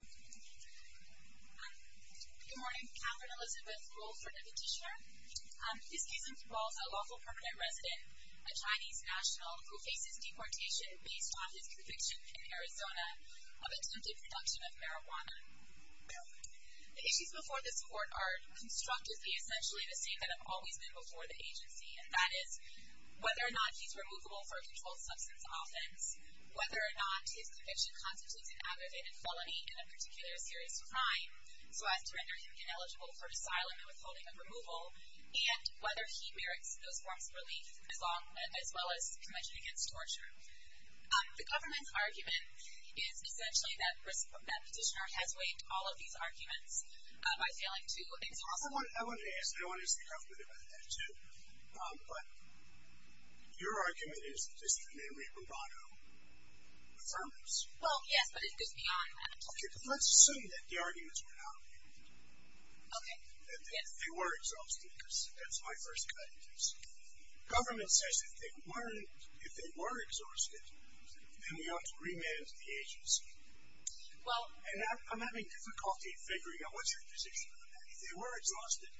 Good morning. Katherine Elizabeth Wolford, a petitioner. This case involves a local permanent resident, a Chinese national, who faces deportation based on his conviction in Arizona of attempted production of marijuana. The issues before this court are constructed to be essentially the same that have always been before the agency, and that is whether or not he's removable for a controlled substance offense, whether or not his conviction constitutes an aggravated felony and in particular a serious crime, so as to render him ineligible for asylum and withholding of removal, and whether he merits those forms of relief as well as convention against torture. The government's argument is essentially that the petitioner has waived all of these arguments by failing to exhaust them. I want to ask, and I want to ask the government about that too, but your argument is that this is mainly bravado affirms. Well, yes, but it goes beyond that. Okay, but let's assume that the arguments were not made. Okay, yes. If they were exhausted, because that's my first evidence. Government says if they were exhausted, then we ought to remand the agency. Well And I'm having difficulty figuring out what's your position on that. If they were exhausted,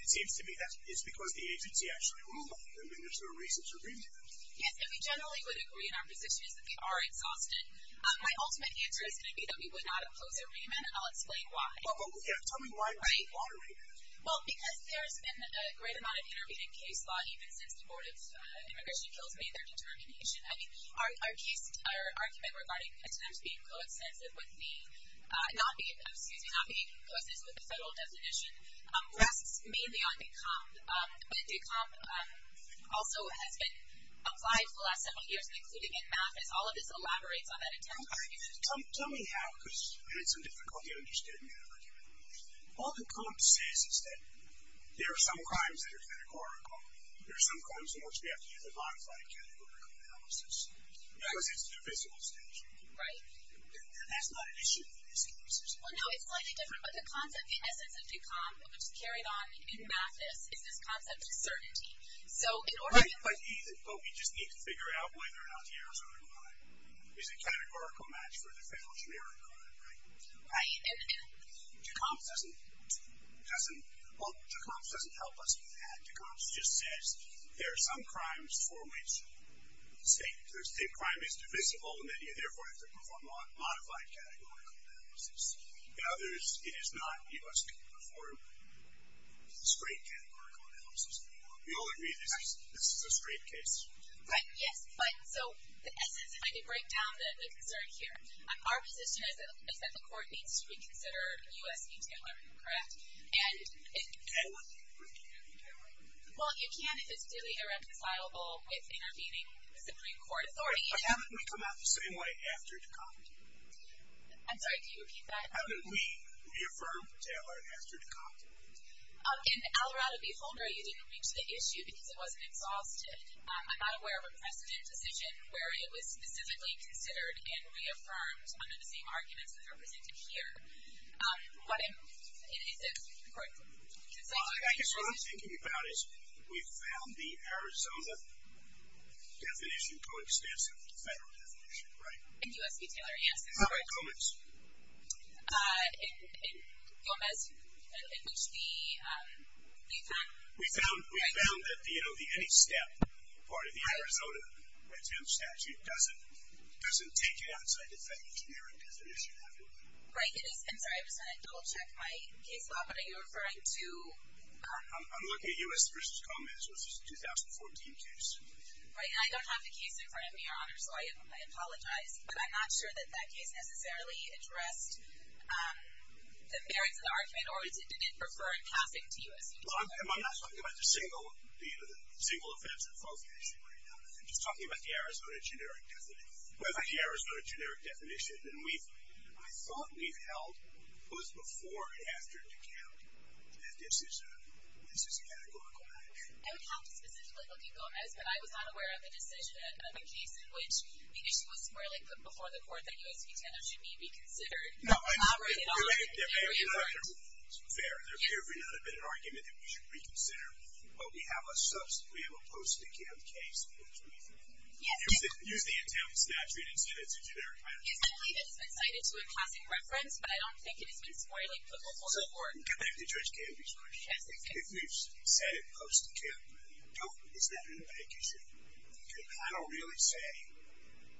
it seems to me that it's because the agency actually ruled on them and there's no reason to remand them. Yes, and we generally would agree in our position is that they are exhausted. My ultimate answer is going to be that we would not oppose a remand, and I'll explain why. Oh, yeah, tell me why remand. Well, because there's been a great amount of intervening case law, even since the Board of Immigration kills me, their determination. I mean, our case, our argument regarding attempts being co-extensive with the not being, excuse me, not being co-extensive with the federal definition rests mainly on DECOM. But DECOM also has been applied for the last several years, including in MAFIS. All of this elaborates on that intent. Tell me how, because I had some difficulty understanding your argument. All DECOM says is that there are some crimes that are categorical. There are some crimes in which we have to use a modified categorical analysis because it's divisible statute. Right. That's not an issue in this case. Well, no, it's slightly different, but the concept, the essence of DECOM, which is carried on in MAFIS, is this concept of certainty. Right, but we just need to figure out whether or not the errors are in line. It's a categorical match for the federal generic crime, right? Right. DECOM doesn't, well, DECOM doesn't help us with that. DECOM just says there are some crimes for which, say, crime is divisible, and then you therefore have to perform a modified categorical analysis. In others, it is not. You must perform straight categorical analysis. We all agree this is a straight case. Right. Yes, but, so, the essence of a breakdown that we concern here, our position is that the court needs to reconsider U.S. v. Taylor, correct? Can we reconsider U.S. v. Taylor? Well, you can if it's duly irreconcilable with intervening Supreme Court authority. But how did we come out the same way after DECOM? I'm sorry, can you repeat that? How did we reaffirm Taylor after DECOM? In Alorado v. Holmer, you didn't reach the issue because it wasn't exhausted. I'm not aware of a precedent decision where it was specifically considered and reaffirmed under the same arguments that are presented here. What is it, correct? I guess what I'm thinking about is we found the Arizona definition coincides with the federal definition, right? In U.S. v. Taylor, yes. All right, Gomez. In Gomez, in which the, we found? We found that, you know, the any step part of the Arizona statute doesn't take you outside the federal generic definition. Right, it is, I'm sorry, I'm just going to double check my case law, but are you referring to? I'm looking at U.S. v. Gomez, which is a 2014 case. Right, and I don't have the case in front of me, Your Honor, so I apologize, but I'm not sure that that case necessarily addressed the merits of the argument, or did it prefer passing to U.S. v. Taylor? Well, I'm not talking about the single offense in both cases right now. I'm just talking about the Arizona generic definition. I thought we held both before and after DECOM, and this is a categorical matter. I would have to specifically look at Gomez, but I was not aware of a decision, of a case in which the issue was more like put before the court that U.S. v. Taylor should be reconsidered. No, I mean, they're fair. There could not have been an argument that we should reconsider. But we have a subsequent, we have a post-DECOM case. Yes. Use the intent of the statute and say that it's a generic item. I believe it's been cited to a passing reference, but I don't think it has been more like put before the court. Going back to Judge Gamby's question, if we've said it post-DECOM, is that in the bank issue? Can a panel really say,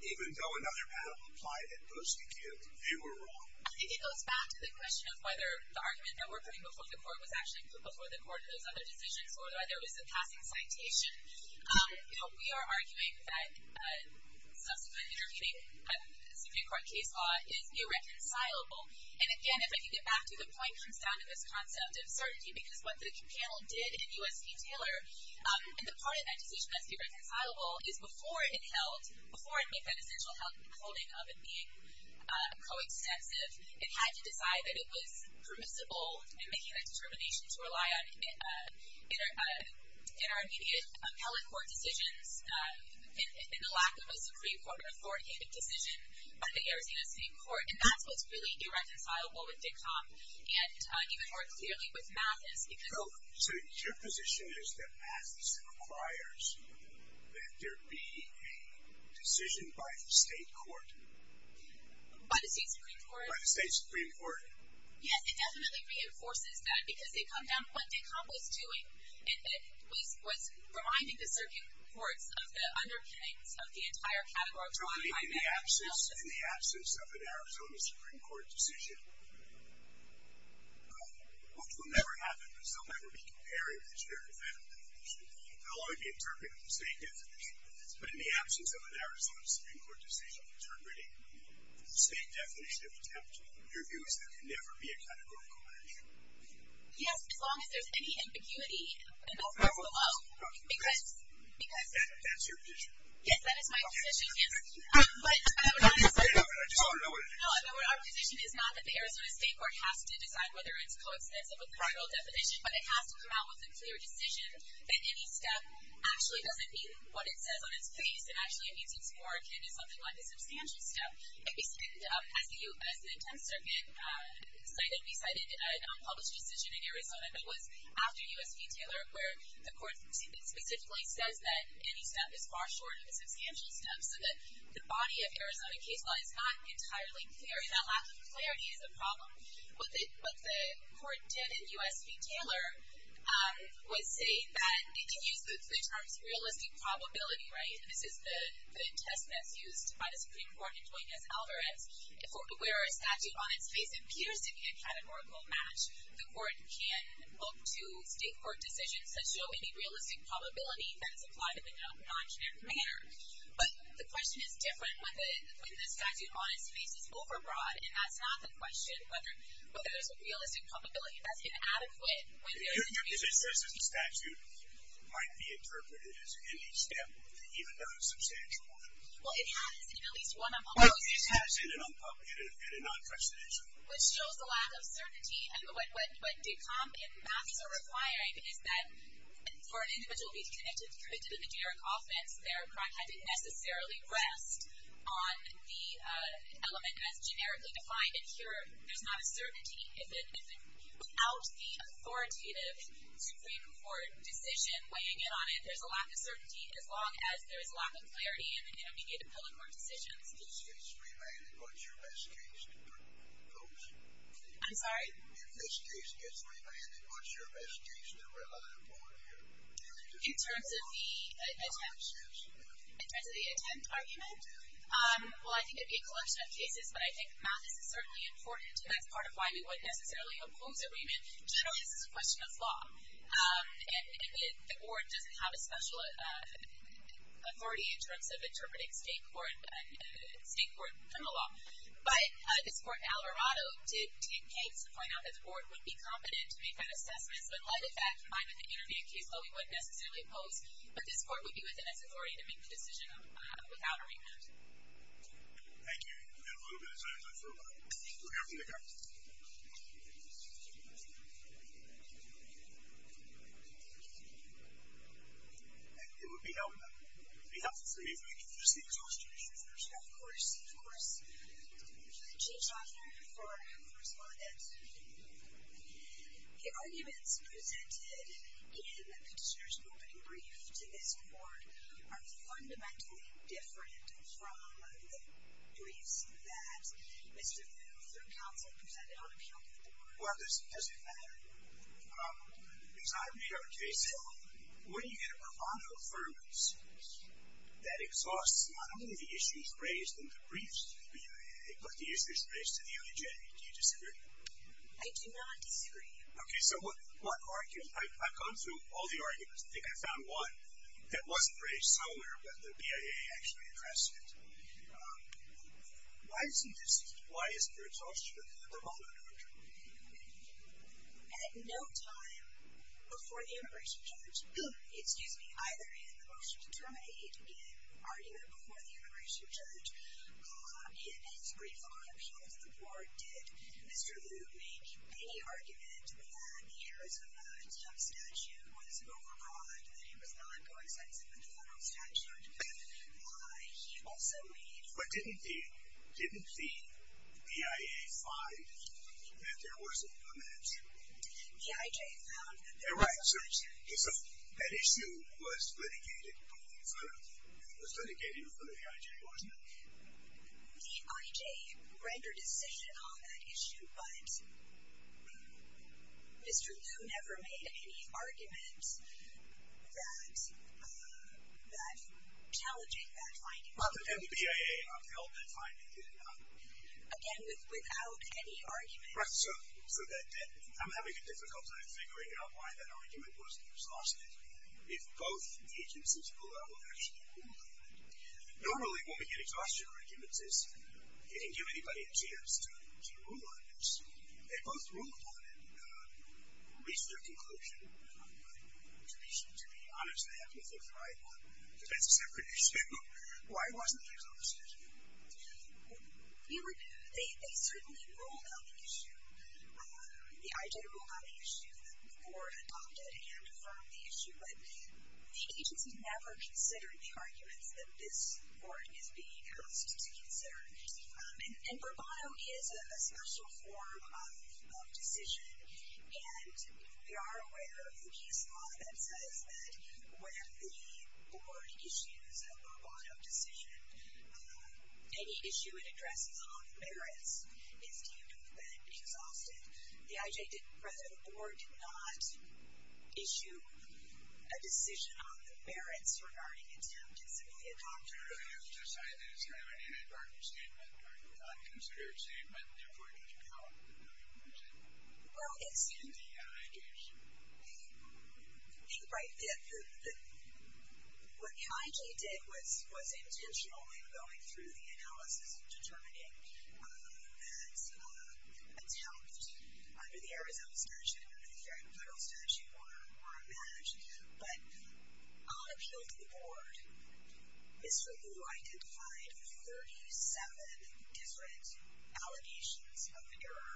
even though another panel applied it post-DECOM, they were wrong? I think it goes back to the question of whether the argument that we're putting before the court was actually put before the court in those other decisions, or whether there was a passing citation. You know, we are arguing that subsequent intervening in a Supreme Court case law is irreconcilable. And, again, if I can get back to the point, it comes down to this concept of certainty, because what the panel did in U.S. v. Taylor, and the part of that decision that's irreconcilable, is before it held, before it made that essential holding of it being co-extensive, it had to decide that it was permissible in making that determination to rely on intermediate appellate court decisions in the lack of a Supreme Court reformated decision by the Arizona State Court. And that's what's really irreconcilable with DECOM, and even more clearly with MASIS. So, your position is that MASIS requires that there be a decision by the state court? By the state Supreme Court? By the state Supreme Court. Yes, it definitely reinforces that, because it comes down to what DECOM was doing, and it was reminding the circuit courts of the underpinnings of the entire category. So, in the absence of an Arizona Supreme Court decision, which will never happen, because they'll never be compared with the shared defendant definition, they'll only be interpreted with the state definition, but in the absence of an Arizona Supreme Court decision interpreting the state definition of attempt, your view is that there can never be a categorical measure? Yes, as long as there's any ambiguity above or below, because... That's your position? Yes, that is my position, yes. But our position is not that the Arizona State Court has to decide whether it's coexistent with the federal definition, but it has to come out with a clear decision that any step actually doesn't mean what it says on its face, it actually means it's more akin to something like a substantial step. As the 10th Circuit cited, we cited an unpublished decision in Arizona that was after U.S. v. Taylor, where the court specifically says that any step is far short of a substantial step, so that the body of Arizona case law is not entirely clear, and that lack of clarity is a problem. What the court did in U.S. v. Taylor was say that it can use the terms realistic probability, right, and this is the test that's used by the Supreme Court in joining us in Alvarez, where a statute on its face appears to be a categorical match, the court can look to state court decisions that show any realistic probability that it's applied in a non-generic manner. But the question is different when the statute on its face is overbroad, and that's not the question, whether there's a realistic probability that's inadequate. Your position is that this statute might be interpreted as any step, even though it's substantial. Well, it has in at least one of them. Well, it has in an unpublished and a non-fetched decision. Which shows the lack of certainty, and what did come in Matthews' reply, is that for an individual to be connected to a non-generic offense, their crime didn't necessarily rest on the element that's generically defined in here. There's not a certainty. Without the authoritative Supreme Court decision weighing in on it, there's a lack of certainty, as long as there's a lack of clarity in the intermediate appellate court decisions. If this case gets remanded, what's your best case to report? I'm sorry? If this case gets remanded, what's your best case to report? In terms of the attempt argument? Well, I think it'd be a collection of cases, but I think Matthews is certainly important, and that's part of why we wouldn't necessarily oppose a remand. Generally, this is a question of law. And the board doesn't have a special authority in terms of interpreting state court criminal law. But this court, Alvarado, did take case to point out that the board would be competent to make that assessment. So in light of that, combined with the intermediate case law, we wouldn't necessarily oppose. But this court would be within its authority to make the decision without a remand. Thank you. We've got a little bit of time left for a vote. We'll hear from the Court. Thank you. It would be helpful to hear from you. Thank you. First of all, can I ask you a question? Of course. Of course. I'm going to change the author for the respondent. The arguments presented in the petitioner's opening brief to this court are fundamentally different from the briefs that Mr. Muth, through counsel, presented on appeal to the board. Well, it doesn't matter. It's not a real case law. When you get a pro bono affirmation that exhausts not only the issues raised in the briefs, but the issues raised to the image, do you disagree? I do not disagree. Okay. So I've gone through all the arguments. I think I found one that wasn't raised somewhere, but the BIA actually addressed it. Why is this? Why is there an exhaustion of the pro bono argument? At no time before the immigration judge, excuse me, either in the motion to terminate or even before the immigration judge, in his brief on appeal to the board, did Mr. Lu make any argument that the Arizona State statute was an overbride, that it was not going sensitive to the federal statute. He also made- But didn't the BIA find that there was a comment? The IJ found that there was. Yeah, right. So that issue was litigated before the IJ, wasn't it? The IJ rendered a statement on that issue, but Mr. Lu never made any argument that challenging that finding. Well, but then the BIA upheld that finding, did it not? Again, without any argument. Right. So I'm having a difficult time figuring out why that argument wasn't exhausted. If both the agencies below actually ruled on it. Normally, when we get exhaustion arguments, it didn't give anybody a chance to rule on it. They both ruled on it and reached their conclusion. To be honest, I have to think, right, well, that's a separate issue. Why wasn't it exhausted? They certainly ruled on the issue. The IJ ruled on the issue. The board adopted and affirmed the issue. But the agency never considered the arguments that this board is being asked to consider. And bravado is a special form of decision. And we are aware of the case law that says that when the board issues a bravado decision, any issue it addresses on the merits is deemed exhausted. The IJ did, the president of the board, did not issue a decision on the merits regarding attempted civilian activity. It was decided that it was kind of an anti-darkness statement, not a considered statement, therefore it doesn't count. Well, it's in the IJ's. I think, right, what the IJ did was intentionally going through the analysis and determining that attempt under the Arizona statute, under the Fair and Equal statute were a match. But on appeal to the board, Mr. Lu identified 37 different allegations of error.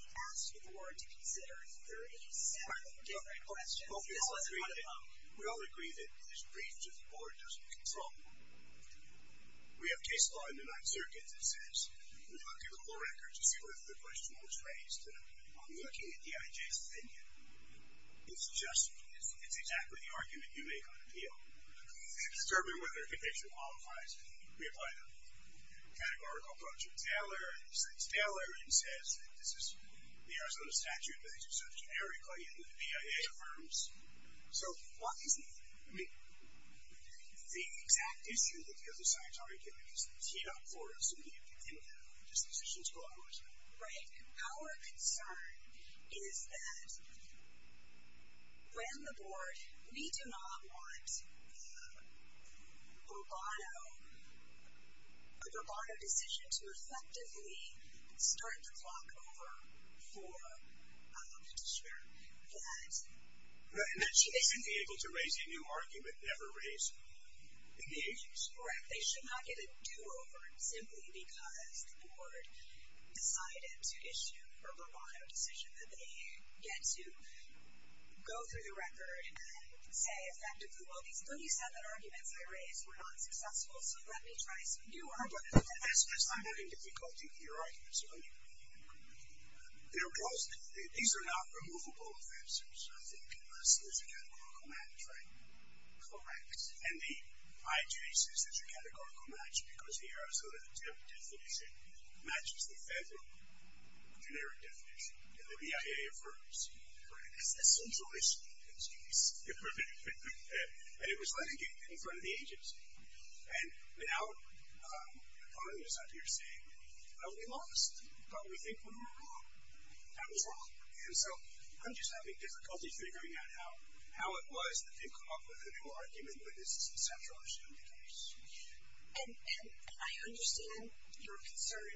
He asked the board to consider 37 different questions. This wasn't one of them. We all agree that this brief to the board doesn't control the board. We have case law in the Ninth Circuit that says, we looked at the full record to see whether the question was raised. I'm looking at the IJ's opinion. It's just, it's exactly the argument you make on appeal. It's disturbing whether a conviction qualifies. We apply the categorical approach of Taylor. Taylor says that this is the Arizona statute, but they do so generically, and the PIA affirms. So what is the exact issue that the other sides are arguing? Is the TDOC for us to be able to do that? Are these decisions collateralized? Right. Our concern is that when the board, we do not want a bravado decision to effectively start the clock over for a petitioner that she isn't able to raise a new argument, never raise a new issue. Correct. They should not get a do-over simply because the board decided to issue a bravado decision that they get to go through the record and say effectively, well, these 37 arguments I raised were not successful, so let me try some new arguments. I'm having difficulty with your arguments. They're close. These are not removable offenses. I think this is a categorical match, right? Correct. And the IJ says it's a categorical match because the Arizona definition matches the federal generic definition. And the PIA affirms. Correct. It's a central issue. Excuse me. And it was litigated in front of the agency. And now the party is out here saying, well, we lost. Don't we think we were wrong? That was wrong. And so I'm just having difficulty figuring out how it was that they came up with a new argument when this is a central issue. And I understand your concern.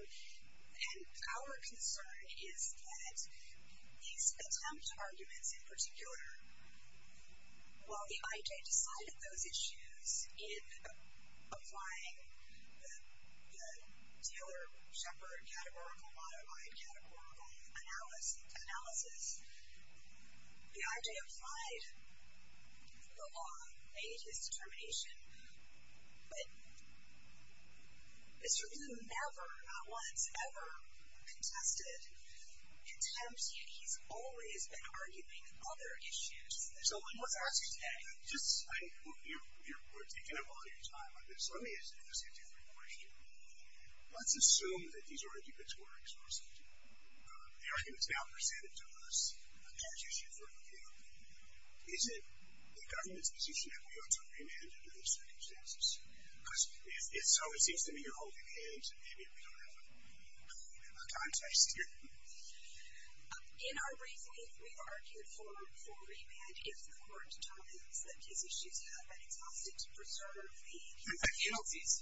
And our concern is that these attempt arguments in particular, while the IJ decided those issues in applying the Taylor-Shepard categorical modified categorical analysis, the IJ applied the law, made his determination. But Mr. Blue never, not once, ever contested contempt. He's always been arguing other issues. So what's our issue today? Just, I mean, you're taking up all your time on this. Let me ask you a different question. Let's assume that these arguments were exclusive. The argument is now presented to us as an issue for review. Is it the government's position that we ought to remand under those circumstances? Because if so, it seems to me you're holding hands, and maybe we don't have a context here. In our reasoning, we've argued for a remand if the court determines that these issues have been exhausted to preserve the penalties.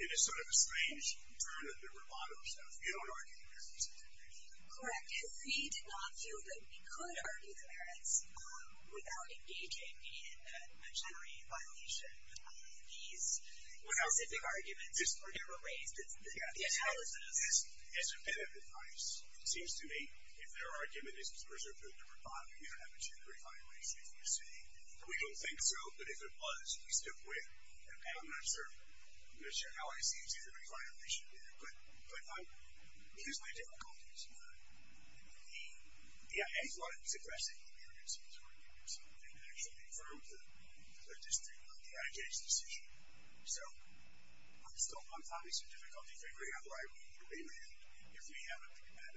It is sort of a strange turn of the rebar or stuff. You don't argue the parents, do you? Correct, because we did not feel that we could argue the parents without engaging in a generic violation. These specific arguments were never raised. It's the analysis. As a bit of advice, it seems to me if their argument is preserved through the rebar, we don't have a generic violation, as you say. We don't think so, but if it was, we stick with it. I'm not sure how I see a generic violation there. But here's my difficulties. The AFL-I was aggressive in the urgency of this argument, and it actually affirmed the district of the IJ's decision. So I'm still having some difficulty figuring out why we need a remand if we have a remand.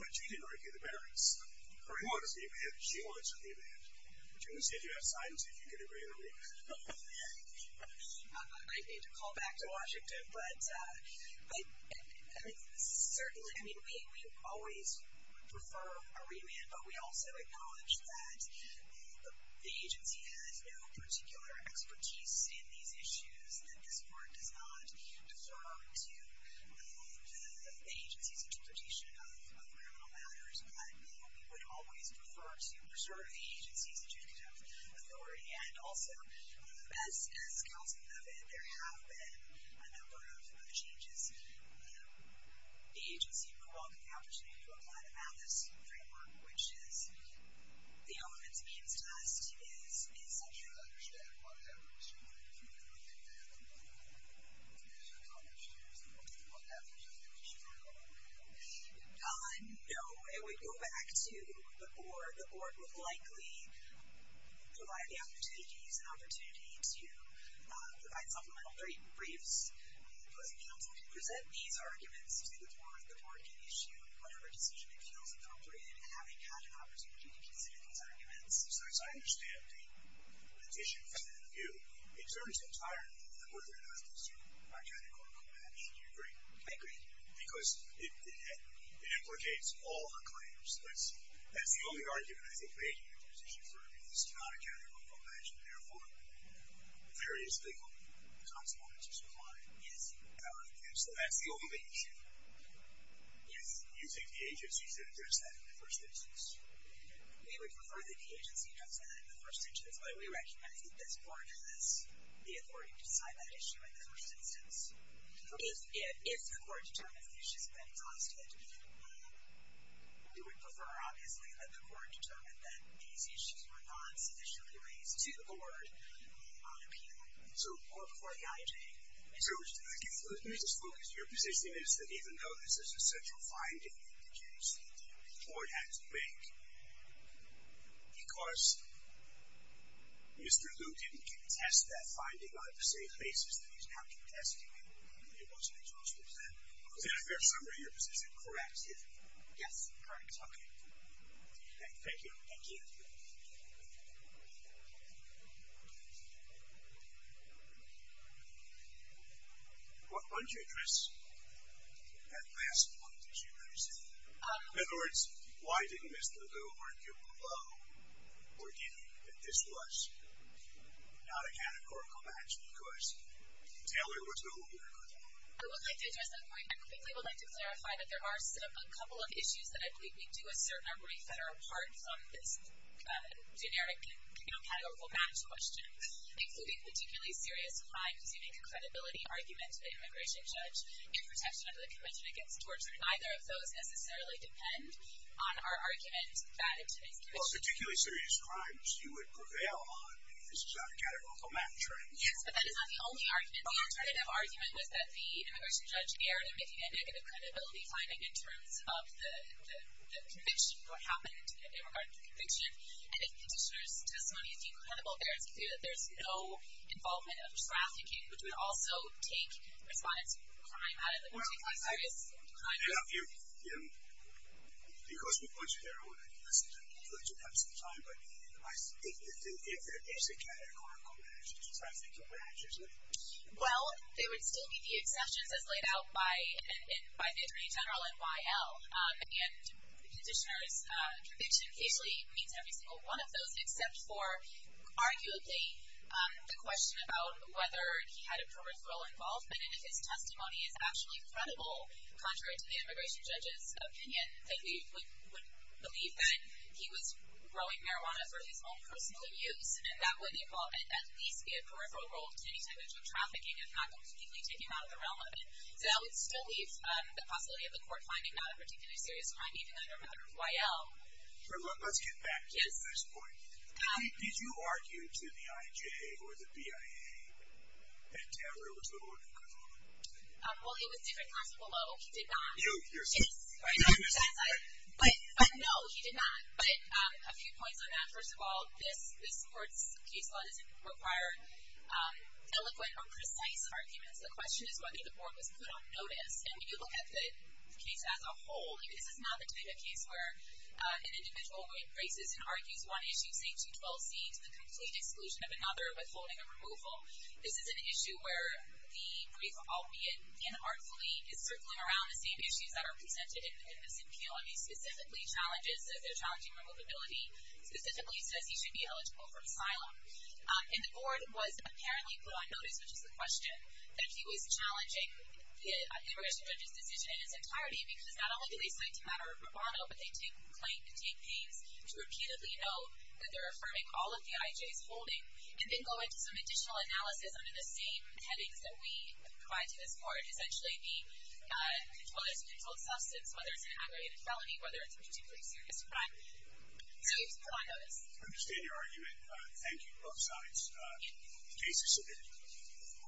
But you didn't argue the parents. Who wants a remand? She wants a remand. But you only said you have signs that you could agree to remand. I'd need to call back to Washington. But certainly, I mean, we always would prefer a remand. But we also acknowledge that the agency has no particular expertise in these issues. This court does not defer to the agency's interpretation of criminal matters. But we would always prefer to preserve the agency's legislative authority. And also, as counsel noted, there have been a number of changes. The agency would welcome the opportunity to apply the MATHIS framework, which is the elements against us. Is that true? I don't understand. Why would that be true? I don't think that would be true. Why would that be true? Would it be true? No, it would go back to the board. The board would likely provide the opportunity to use an opportunity to provide supplemental briefs, because counsel can present these arguments to the board, the board can issue whatever decision it feels appropriate, having had an opportunity to consider these arguments. So as I understand the petition for the review, it turns entirely to the board of justice, you are trying to quote-unquote match. Do you agree? I agree. Because it implicates all the claims. So that's the only argument I think we have in the petition for a review. It's not a counter-quote-unquote match, and therefore there is legal consequences for that. Yes. And so that's the only issue. Yes. You think the agency should address that in the first instance? We would prefer that the agency address that in the first instance. Why? We recommend that this board has the authority to decide that issue in the first instance. If the court determines that the issue has been caused to that We would prefer, obviously, that the court determine that these issues were not sufficiently raised to the board on appeal or before the IJ. Let me just focus. Your position is that even though this is a central finding, the agency, the board, had to make. Because Mr. Lu didn't contest that finding on the same basis that he's now contesting it. It wasn't exhaustive. Is that a fair summary of your position? Correct. Yes. Correct. Okay. Thank you. Thank you. Why don't you address that last point, as you understand it. In other words, why didn't Mr. Lu argue below or give that this was not a categorical match because Taylor was no winner? I would like to address that point. I quickly would like to clarify that there are a couple of issues that I believe we do assert are brief that are apart from this generic, you know, categorical match question. Including particularly serious crimes, you make a credibility argument to the immigration judge in protection under the convention against torture. Neither of those necessarily depend on our argument that in today's convention. Well, particularly serious crimes you would prevail on if this was not a categorical match, right? Yes, but that is not the only argument. The alternative argument was that the immigration judge erred in making a negative credibility finding in terms of the conviction, what happened in regard to the conviction. And the petitioner's testimony is incredibly fair to say that there is no involvement of trafficking, which would also take responsibility for crime out of it, which is a serious crime. Yeah. Yeah. Because we put you there, I would like to listen to what you have to say at the time, but if there is a categorical match, Well, there would still be the exceptions as laid out by the attorney general and YL. And the petitioner's conviction basically meets every single one of those, except for arguably the question about whether he had a peripheral involvement and if his testimony is actually credible, contrary to the immigration judge's opinion, that he would believe that he was growing marijuana for his own personal use. And that would involve at least a peripheral role to any type of drug trafficking, if not completely taken out of the realm of it. So that would still leave the possibility of the court finding not a particularly serious crime, even under a matter of YL. Let's get back to this point. Did you argue to the IJ or the BIA that Taylor was the Lord and Good Lord? Well, it was different. He did not. No, he did not. But a few points on that. First of all, this court's case law doesn't require eloquent or precise arguments. The question is whether the board was put on notice. And when you look at the case as a whole, this is not the type of case where an individual embraces and argues one issue, say 212C, to the complete exclusion of another, withholding a removal. This is an issue where the brief, albeit inartfully, is circling around the same issues that are presented in this appeal, and he specifically challenges, if they're challenging removability, specifically says he should be eligible for asylum. And the board was apparently put on notice, which is the question, that he was challenging the immigration judge's decision in its entirety because not only do they cite the matter of bravado, but they claim to take pains to repeatedly note that they're affirming all of the IJ's holding, and then go into some additional analysis under the same headings that we provide to this court, whether it's an aggravated felony, whether it's a particularly serious crime. So he was put on notice. I understand your argument. Thank you both sides. The case is submitted.